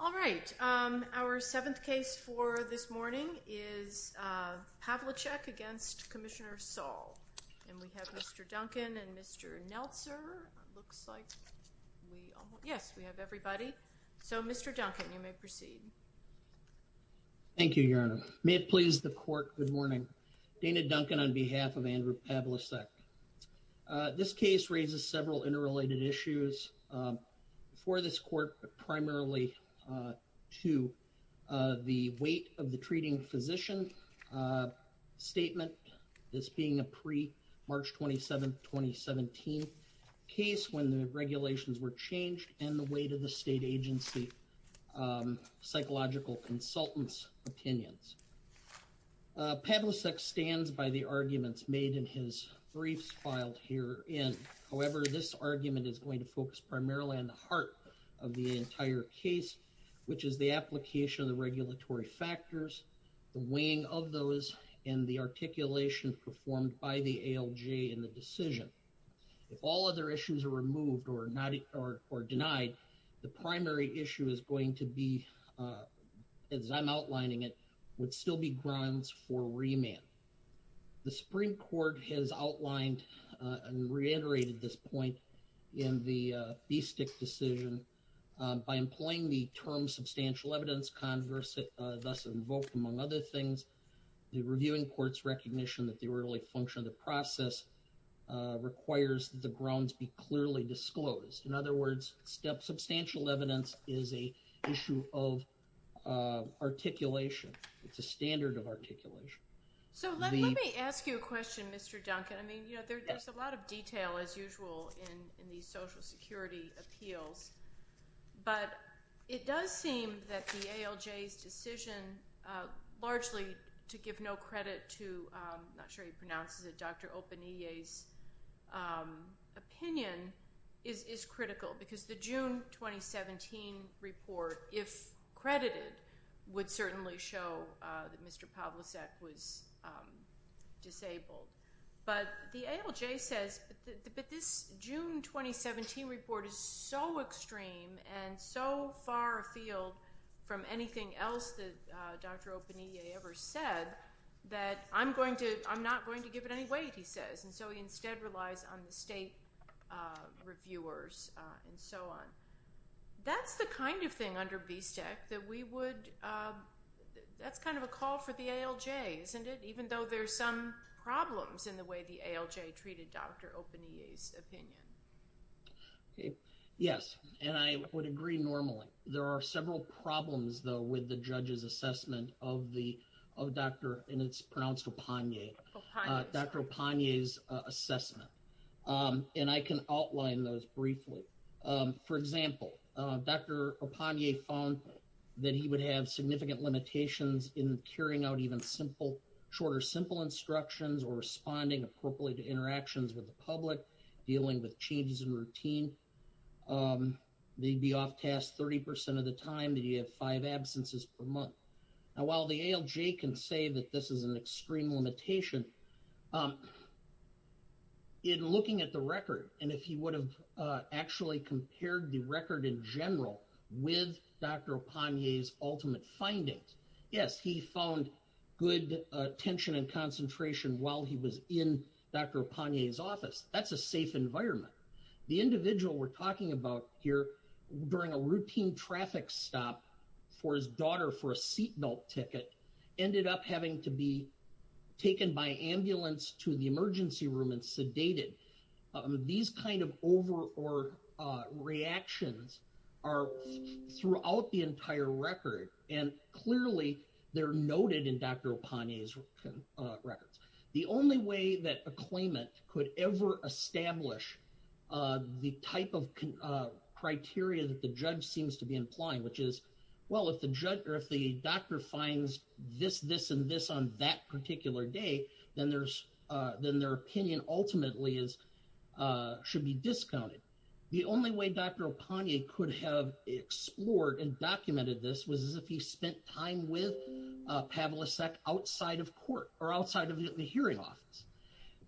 All right, our seventh case for this morning is Pavlicek against Commissioner Saul. And we have Mr. Duncan and Mr. Neltzer, looks like we, yes, we have everybody. So Mr. Duncan, you may proceed. Thank you, Your Honor. May it please the court. Good morning. Dana Duncan on behalf of Andrew Pavlicek. This case raises several interrelated issues for this court, but primarily to the weight of the treating physician statement. This being a pre-March 27th, 2017 case when the regulations were changed and the weight of the state agency psychological consultants' opinions. Pavlicek stands by the arguments made in his briefs filed herein. However, this argument is going to focus primarily on the heart of the entire case, which is the application of the regulatory factors, the weighing of those, and the articulation performed by the ALJ in the decision. If all other issues are removed or denied, the primary issue is going to be, as I'm outlining it, would still be grounds for remand. The Supreme Court has outlined and reiterated this point in the BSTIC decision. By employing the term substantial evidence, thus invoked among other things, the reviewing court's recognition that the early function of the process requires the grounds be clearly disclosed. In other words, substantial evidence is a issue of articulation. It's a standard of articulation. So let me ask you a question, Mr. Duncan. I mean, you know, there's a lot of detail, as usual, in these Social Security appeals. But it does seem that the ALJ's decision largely to give no credit to—I'm not sure he pronounces it—Dr. Oppenier's opinion is critical. Because the June 2017 report, if credited, would certainly show that Mr. Pavlicek was disabled. But the ALJ says, but this June 2017 report is so extreme and so far afield from anything else that Dr. Oppenier ever said that I'm not going to give it any weight, he says. And so he instead relies on the state reviewers and so on. That's the kind of thing under BSTEC that we would—that's kind of a call for the ALJ, isn't it? Even though there's some problems in the way the ALJ treated Dr. Oppenier's opinion. Yes, and I would agree normally. There are several problems, though, with the judge's assessment of the—and it's pronounced Opponier—Dr. Opponier's assessment. And I can outline those briefly. For example, Dr. Opponier found that he would have significant limitations in carrying out even simple—shorter simple instructions or responding appropriately to interactions with the public, dealing with changes in routine. They'd be off task 30% of the time. They'd have five absences per month. And while the ALJ can say that this is an extreme limitation, in looking at the record and if he would have actually compared the record in general with Dr. Opponier's ultimate findings, yes, he found good attention and concentration while he was in Dr. Opponier's office. That's a safe environment. The individual we're talking about here, during a routine traffic stop for his daughter for a seatbelt ticket, ended up having to be taken by ambulance to the emergency room and sedated. These kind of over or reactions are throughout the entire record. And clearly, they're noted in Dr. Opponier's records. The only way that a claimant could ever establish the type of criteria that the judge seems to be implying, which is, well, if the judge or if the doctor finds this, this, and this on that particular day, then their opinion ultimately should be discounted. The only way Dr. Opponier could have explored and documented this was if he spent time with Pavlicek outside of court or outside of the hearing office.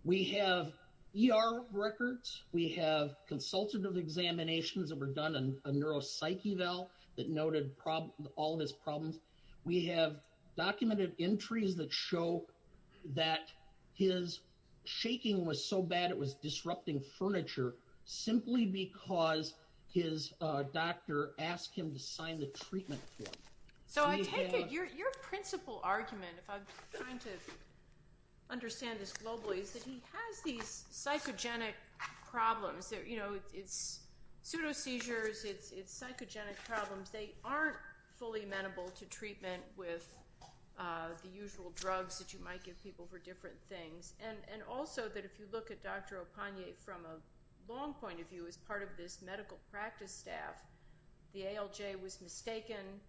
We have ER records, we have consultative examinations that were done on a neuropsych eval that noted all of his problems. We have documented entries that show that his shaking was so bad it was disrupting furniture, simply because his doctor asked him to sign the treatment form. So I take it your principal argument, if I'm trying to understand this globally, is that he has these psychogenic problems. You know, it's pseudo seizures, it's psychogenic problems. They aren't fully amenable to treatment with the usual drugs that you might give people for different things. And also that if you look at Dr. Opponier from a long point of view as part of this medical practice staff, the ALJ was mistaken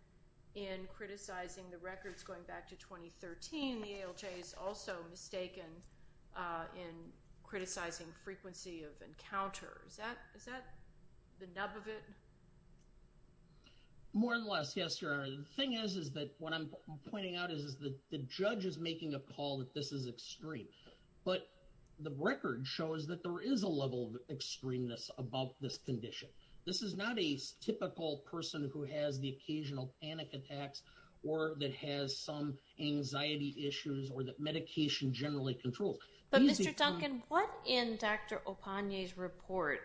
in criticizing the records going back to 2013. The ALJ is also mistaken in criticizing frequency of encounters. Is that the nub of it? More or less, yes, Your Honor. The thing is that what I'm pointing out is that the judge is making a call that this is extreme. But the record shows that there is a level of extremeness above this condition. This is not a typical person who has the occasional panic attacks or that has some anxiety issues or that medication generally controls. But Mr. Duncan, what in Dr. Opponier's report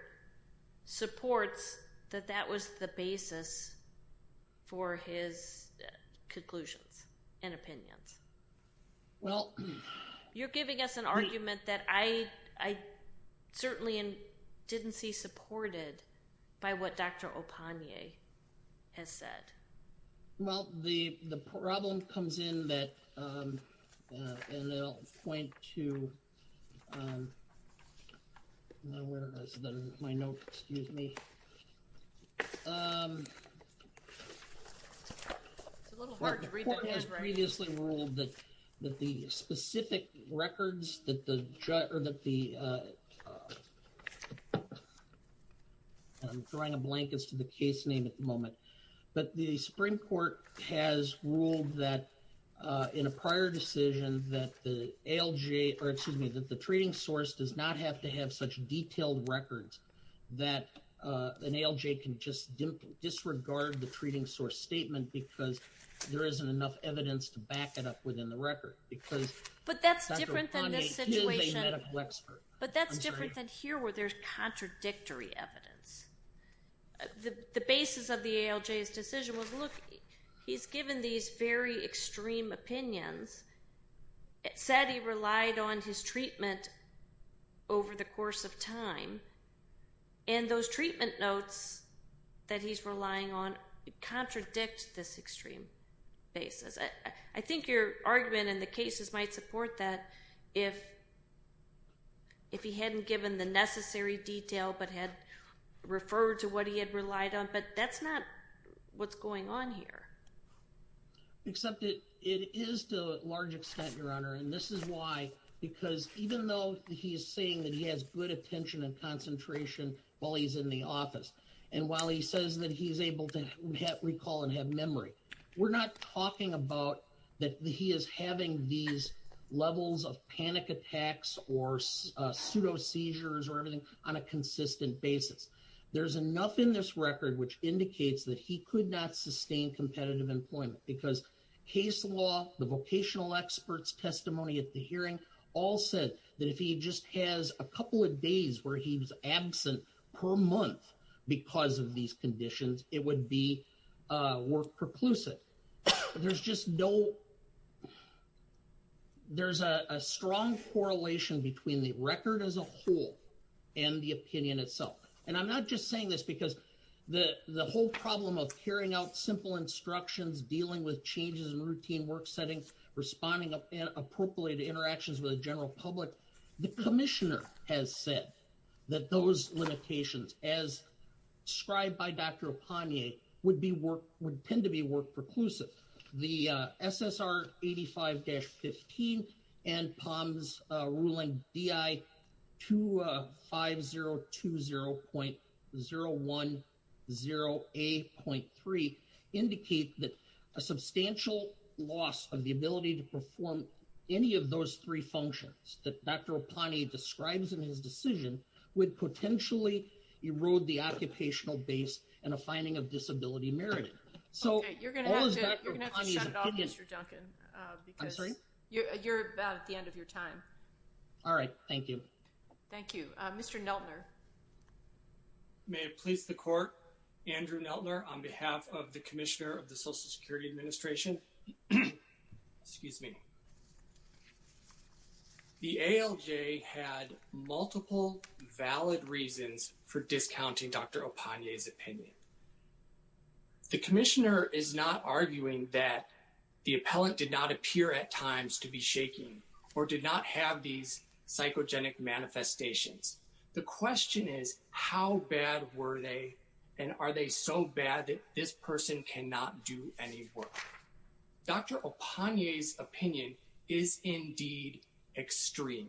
supports that that was the basis for his conclusions and opinions? Well... You're giving us an argument that I certainly didn't see supported by what Dr. Opponier has said. Well, the problem comes in that... And I'll point to... Where is my note? Excuse me. The court has previously ruled that the specific records that the... I'm drawing a blank as to the case name at the moment. But the Supreme Court has ruled that in a prior decision that the ALJ... Or excuse me, that the treating source does not have to have such detailed records that an ALJ can just disregard the treating source statement because there isn't enough evidence to back it up within the record. Because Dr. Opponier is a medical expert. But that's different than here where there's contradictory evidence. The basis of the ALJ's decision was, look, he's given these very extreme opinions. It said he relied on his treatment over the course of time. And those treatment notes that he's relying on contradict this extreme basis. I think your argument in the cases might support that if he hadn't given the necessary detail but had referred to what he had relied on. But that's not what's going on here. Except it is to a large extent, Your Honor. And this is why. Because even though he is saying that he has good attention and concentration while he's in the office and while he says that he's able to recall and have memory... We're not talking about that he is having these levels of panic attacks or pseudo seizures or anything on a consistent basis. There's enough in this record which indicates that he could not sustain competitive employment. Because case law, the vocational experts testimony at the hearing all said that if he just has a couple of days where he was absent per month because of these conditions, it would be more preclusive. There's just no... There's a strong correlation between the record as a whole and the opinion itself. And I'm not just saying this because the whole problem of carrying out simple instructions, dealing with changes in routine work settings, responding appropriately to interactions with the general public. The commissioner has said that those limitations, as described by Dr. Opanye, would tend to be work-preclusive. The SSR 85-15 and POMS ruling DI 25020.010A.3 indicate that a substantial loss of the ability to perform any of those three functions that Dr. Opanye describes in his decision would potentially erode the occupational base and a finding of disability merit. Okay, you're going to have to shut off Mr. Duncan. I'm sorry? You're about at the end of your time. All right, thank you. Thank you. Mr. Neltner. May it please the court, Andrew Neltner on behalf of the Commissioner of the Social Security Administration. Excuse me. The ALJ had multiple valid reasons for discounting Dr. Opanye's opinion. The commissioner is not arguing that the appellant did not appear at times to be shaking or did not have these psychogenic manifestations. The question is, how bad were they and are they so bad that this person cannot do any work? Dr. Opanye's opinion is indeed extreme.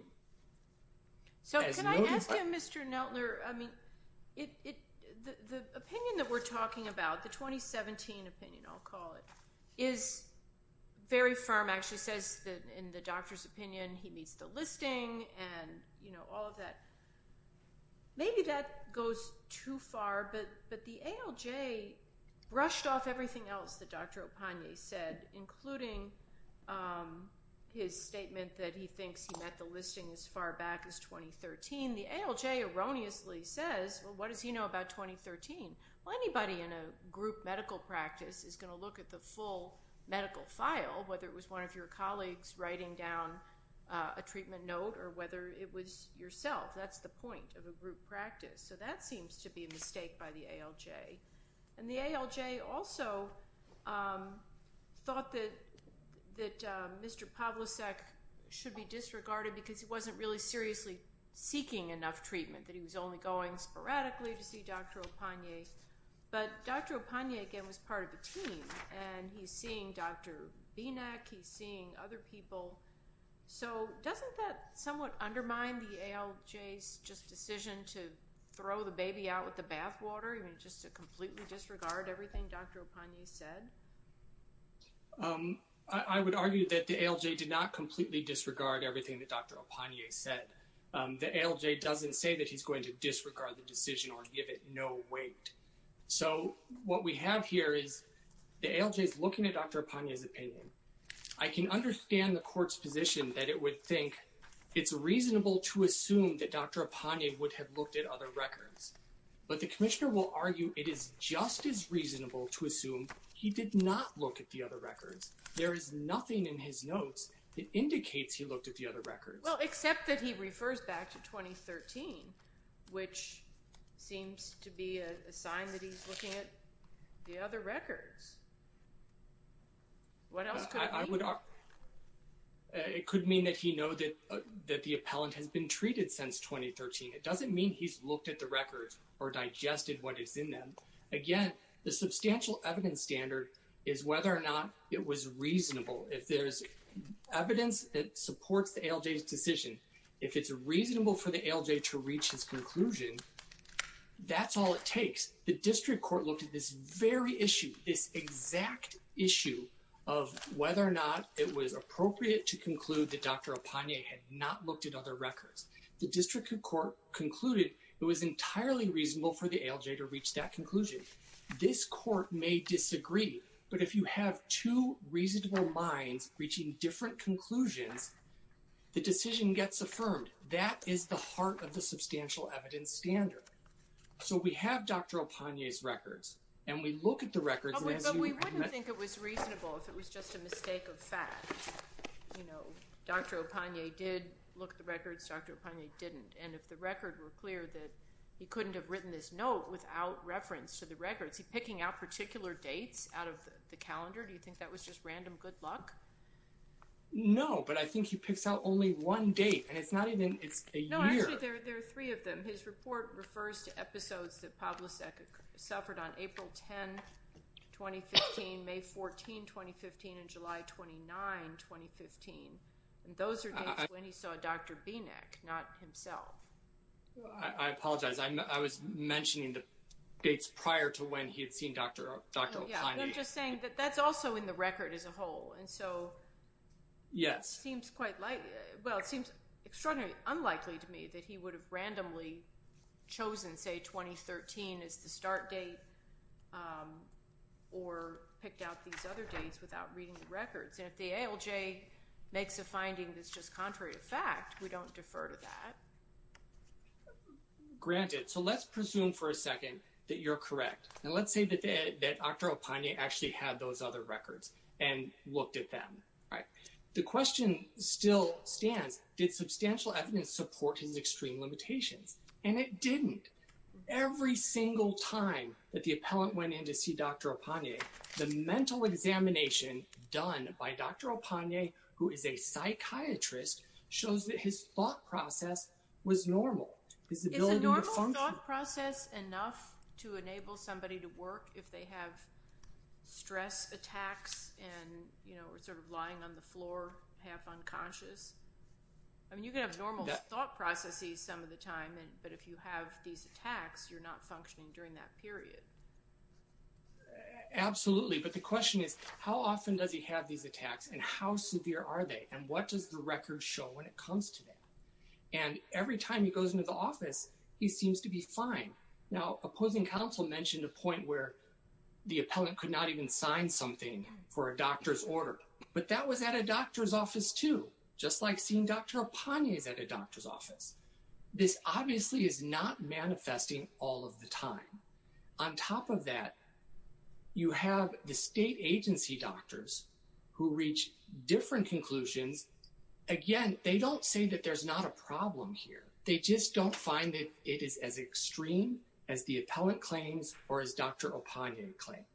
Can I ask you, Mr. Neltner, the opinion that we're talking about, the 2017 opinion, I'll call it, is very firm. It actually says that in the doctor's opinion, he meets the listing and all of that. Maybe that goes too far, but the ALJ brushed off everything else that Dr. Opanye said, including his statement that he thinks he met the listing as far back as 2013. The ALJ erroneously says, well, what does he know about 2013? Well, anybody in a group medical practice is going to look at the full medical file, whether it was one of your colleagues writing down a treatment note or whether it was yourself. That's the point of a group practice. So that seems to be a mistake by the ALJ. And the ALJ also thought that Mr. Pavlicek should be disregarded because he wasn't really seriously seeking enough treatment, that he was only going sporadically to see Dr. Opanye. But Dr. Opanye, again, was part of the team, and he's seeing Dr. Bienak. He's seeing other people. So doesn't that somewhat undermine the ALJ's just decision to throw the baby out with the bathwater, I mean, just to completely disregard everything Dr. Opanye said? I would argue that the ALJ did not completely disregard everything that Dr. Opanye said. The ALJ doesn't say that he's going to disregard the decision or give it no weight. So what we have here is the ALJ is looking at Dr. Opanye's opinion. I can understand the court's position that it would think it's reasonable to assume that Dr. Opanye would have looked at other records. But the commissioner will argue it is just as reasonable to assume he did not look at the other records. There is nothing in his notes that indicates he looked at the other records. Well, except that he refers back to 2013, which seems to be a sign that he's looking at the other records. What else could it mean? It could mean that he knows that the appellant has been treated since 2013. It doesn't mean he's looked at the records or digested what is in them. Again, the substantial evidence standard is whether or not it was reasonable. If there's evidence that supports the ALJ's decision, if it's reasonable for the ALJ to reach his conclusion, that's all it takes. The district court looked at this very issue, this exact issue of whether or not it was appropriate to conclude that Dr. Opanye had not looked at other records. The district court concluded it was entirely reasonable for the ALJ to reach that conclusion. This court may disagree, but if you have two reasonable minds reaching different conclusions, the decision gets affirmed. That is the heart of the substantial evidence standard. So we have Dr. Opanye's records, and we look at the records. But we wouldn't think it was reasonable if it was just a mistake of fact. You know, Dr. Opanye did look at the records, Dr. Opanye didn't. And if the records were clear that he couldn't have written this note without reference to the records, is he picking out particular dates out of the calendar? Do you think that was just random good luck? No, but I think he picks out only one date, and it's not even a year. No, actually there are three of them. His report refers to episodes that Pavlosek suffered on April 10, 2015, May 14, 2015, and July 29, 2015. And those are dates when he saw Dr. Binek, not himself. I apologize. I was mentioning the dates prior to when he had seen Dr. Opanye. I'm just saying that that's also in the record as a whole. And so it seems quite unlikely to me that he would have randomly chosen, say, 2013 as the start date or picked out these other dates without reading the records. And if the ALJ makes a finding that's just contrary to fact, we don't defer to that. Granted. So let's presume for a second that you're correct. And let's say that Dr. Opanye actually had those other records and looked at them. The question still stands, did substantial evidence support his extreme limitations? And it didn't. Every single time that the appellant went in to see Dr. Opanye, the mental examination done by Dr. Opanye, who is a psychiatrist, shows that his thought process was normal. Is a normal thought process enough to enable somebody to work if they have stress attacks and are sort of lying on the floor, half unconscious? I mean, you can have normal thought processes some of the time. But if you have these attacks, you're not functioning during that period. Absolutely. But the question is, how often does he have these attacks and how severe are they? And what does the record show when it comes to that? And every time he goes into the office, he seems to be fine. Now, opposing counsel mentioned a point where the appellant could not even sign something for a doctor's order. But that was at a doctor's office too, just like seeing Dr. Opanye at a doctor's office. This obviously is not manifesting all of the time. On top of that, you have the state agency doctors who reach different conclusions. Again, they don't say that there's not a problem here. They just don't find that it is as extreme as the appellant claims or as Dr. Opanye claimed.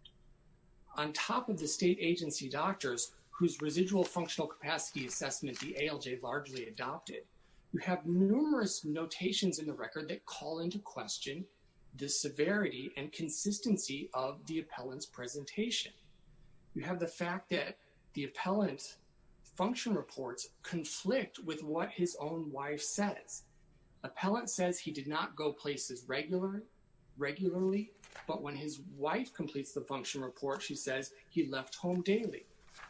On top of the state agency doctors whose residual functional capacity assessment the ALJ largely adopted, you have numerous notations in the record that call into question the severity and consistency of the appellant's presentation. You have the fact that the appellant's function reports conflict with what his own wife says. Appellant says he did not go places regularly, but when his wife completes the function report, she says he left home daily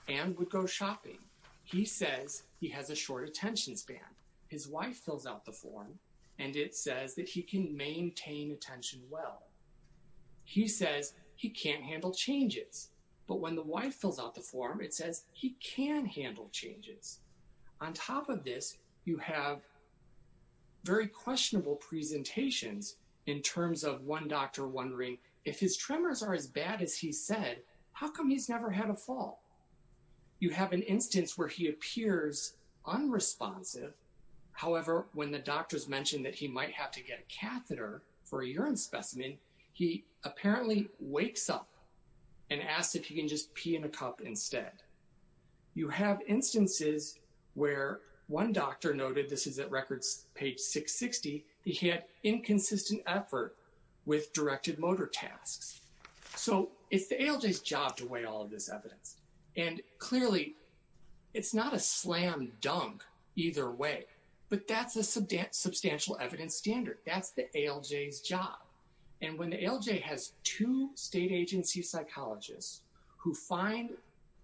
and would go shopping. He says he has a short attention span. His wife fills out the form, and it says that he can maintain attention well. He says he can't handle changes, but when the wife fills out the form, it says he can handle changes. On top of this, you have very questionable presentations in terms of one doctor wondering, if his tremors are as bad as he said, how come he's never had a fall? You have an instance where he appears unresponsive. However, when the doctors mention that he might have to get a catheter for a urine specimen, he apparently wakes up and asks if he can just pee in a cup instead. You have instances where one doctor noted, this is at records page 660, that he had inconsistent effort with directed motor tasks. So it's the ALJ's job to weigh all of this evidence. And clearly, it's not a slam dunk either way, but that's a substantial evidence standard. That's the ALJ's job. And when the ALJ has two state agency psychologists who find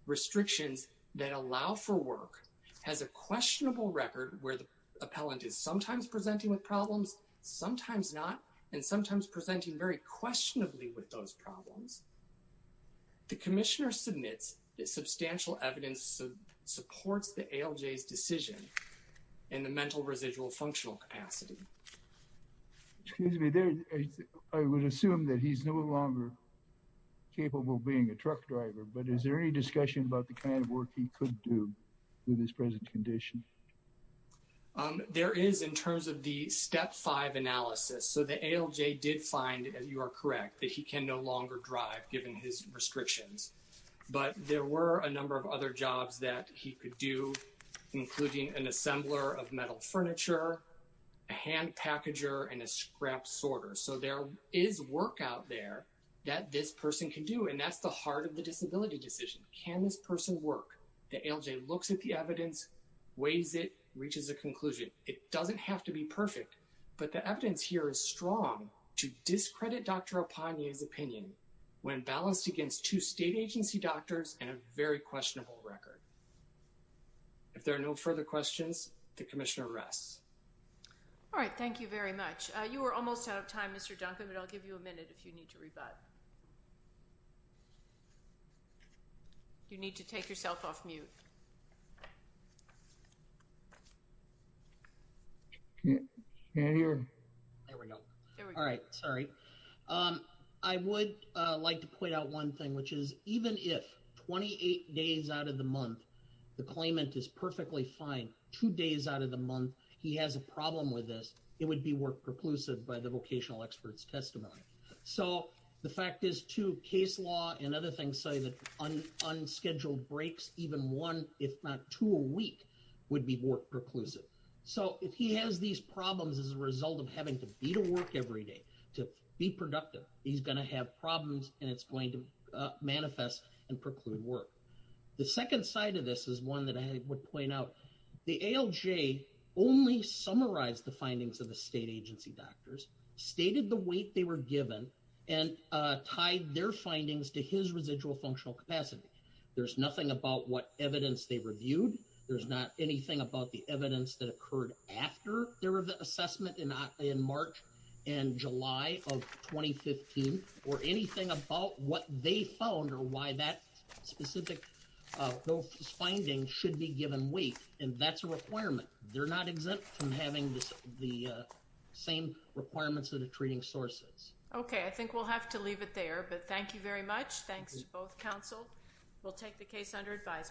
restrictions that allow for work, has a questionable record where the appellant is sometimes presenting with problems, sometimes not, and sometimes presenting very questionably with those problems, the commissioner submits that substantial evidence supports the ALJ's decision in the mental residual functional capacity. Excuse me. I would assume that he's no longer capable of being a truck driver, but is there any discussion about the kind of work he could do with his present condition? There is in terms of the step five analysis. So the ALJ did find, you are correct, that he can no longer drive given his restrictions. But there were a number of other jobs that he could do, including an assembler of metal furniture, a hand packager, and a scrap sorter. So there is work out there that this person can do, and that's the heart of the disability decision. Can this person work? The ALJ looks at the evidence, weighs it, reaches a conclusion. It doesn't have to be perfect, but the evidence here is strong to discredit Dr. Apane's opinion when balanced against two state agency doctors and a very questionable record. If there are no further questions, the commissioner rests. All right. Thank you very much. You are almost out of time, Mr. Duncan, but I'll give you a minute if you need to rebut. You need to take yourself off mute. There we go. All right. Sorry. I would like to point out one thing, which is even if 28 days out of the month the claimant is perfectly fine, two days out of the month he has a problem with this, it would be work preclusive by the vocational expert's testimony. So the fact is, too, case law and other things say that unscheduled breaks, even one, if not two a week, would be more preclusive. So if he has these problems as a result of having to be to work every day, to be productive, he's going to have problems, and it's going to manifest and preclude work. The second side of this is one that I would point out. The ALJ only summarized the findings of the state agency doctors, stated the weight they were given, and tied their findings to his residual functional capacity. There's nothing about what evidence they reviewed. There's not anything about the evidence that occurred after their assessment in March and July of 2015, or anything about what they found or why that specific finding should be given weight, and that's a requirement. They're not exempt from having the same requirements of the treating sources. Okay. I think we'll have to leave it there, but thank you very much. Thanks to both counsel. We'll take the case under advisement.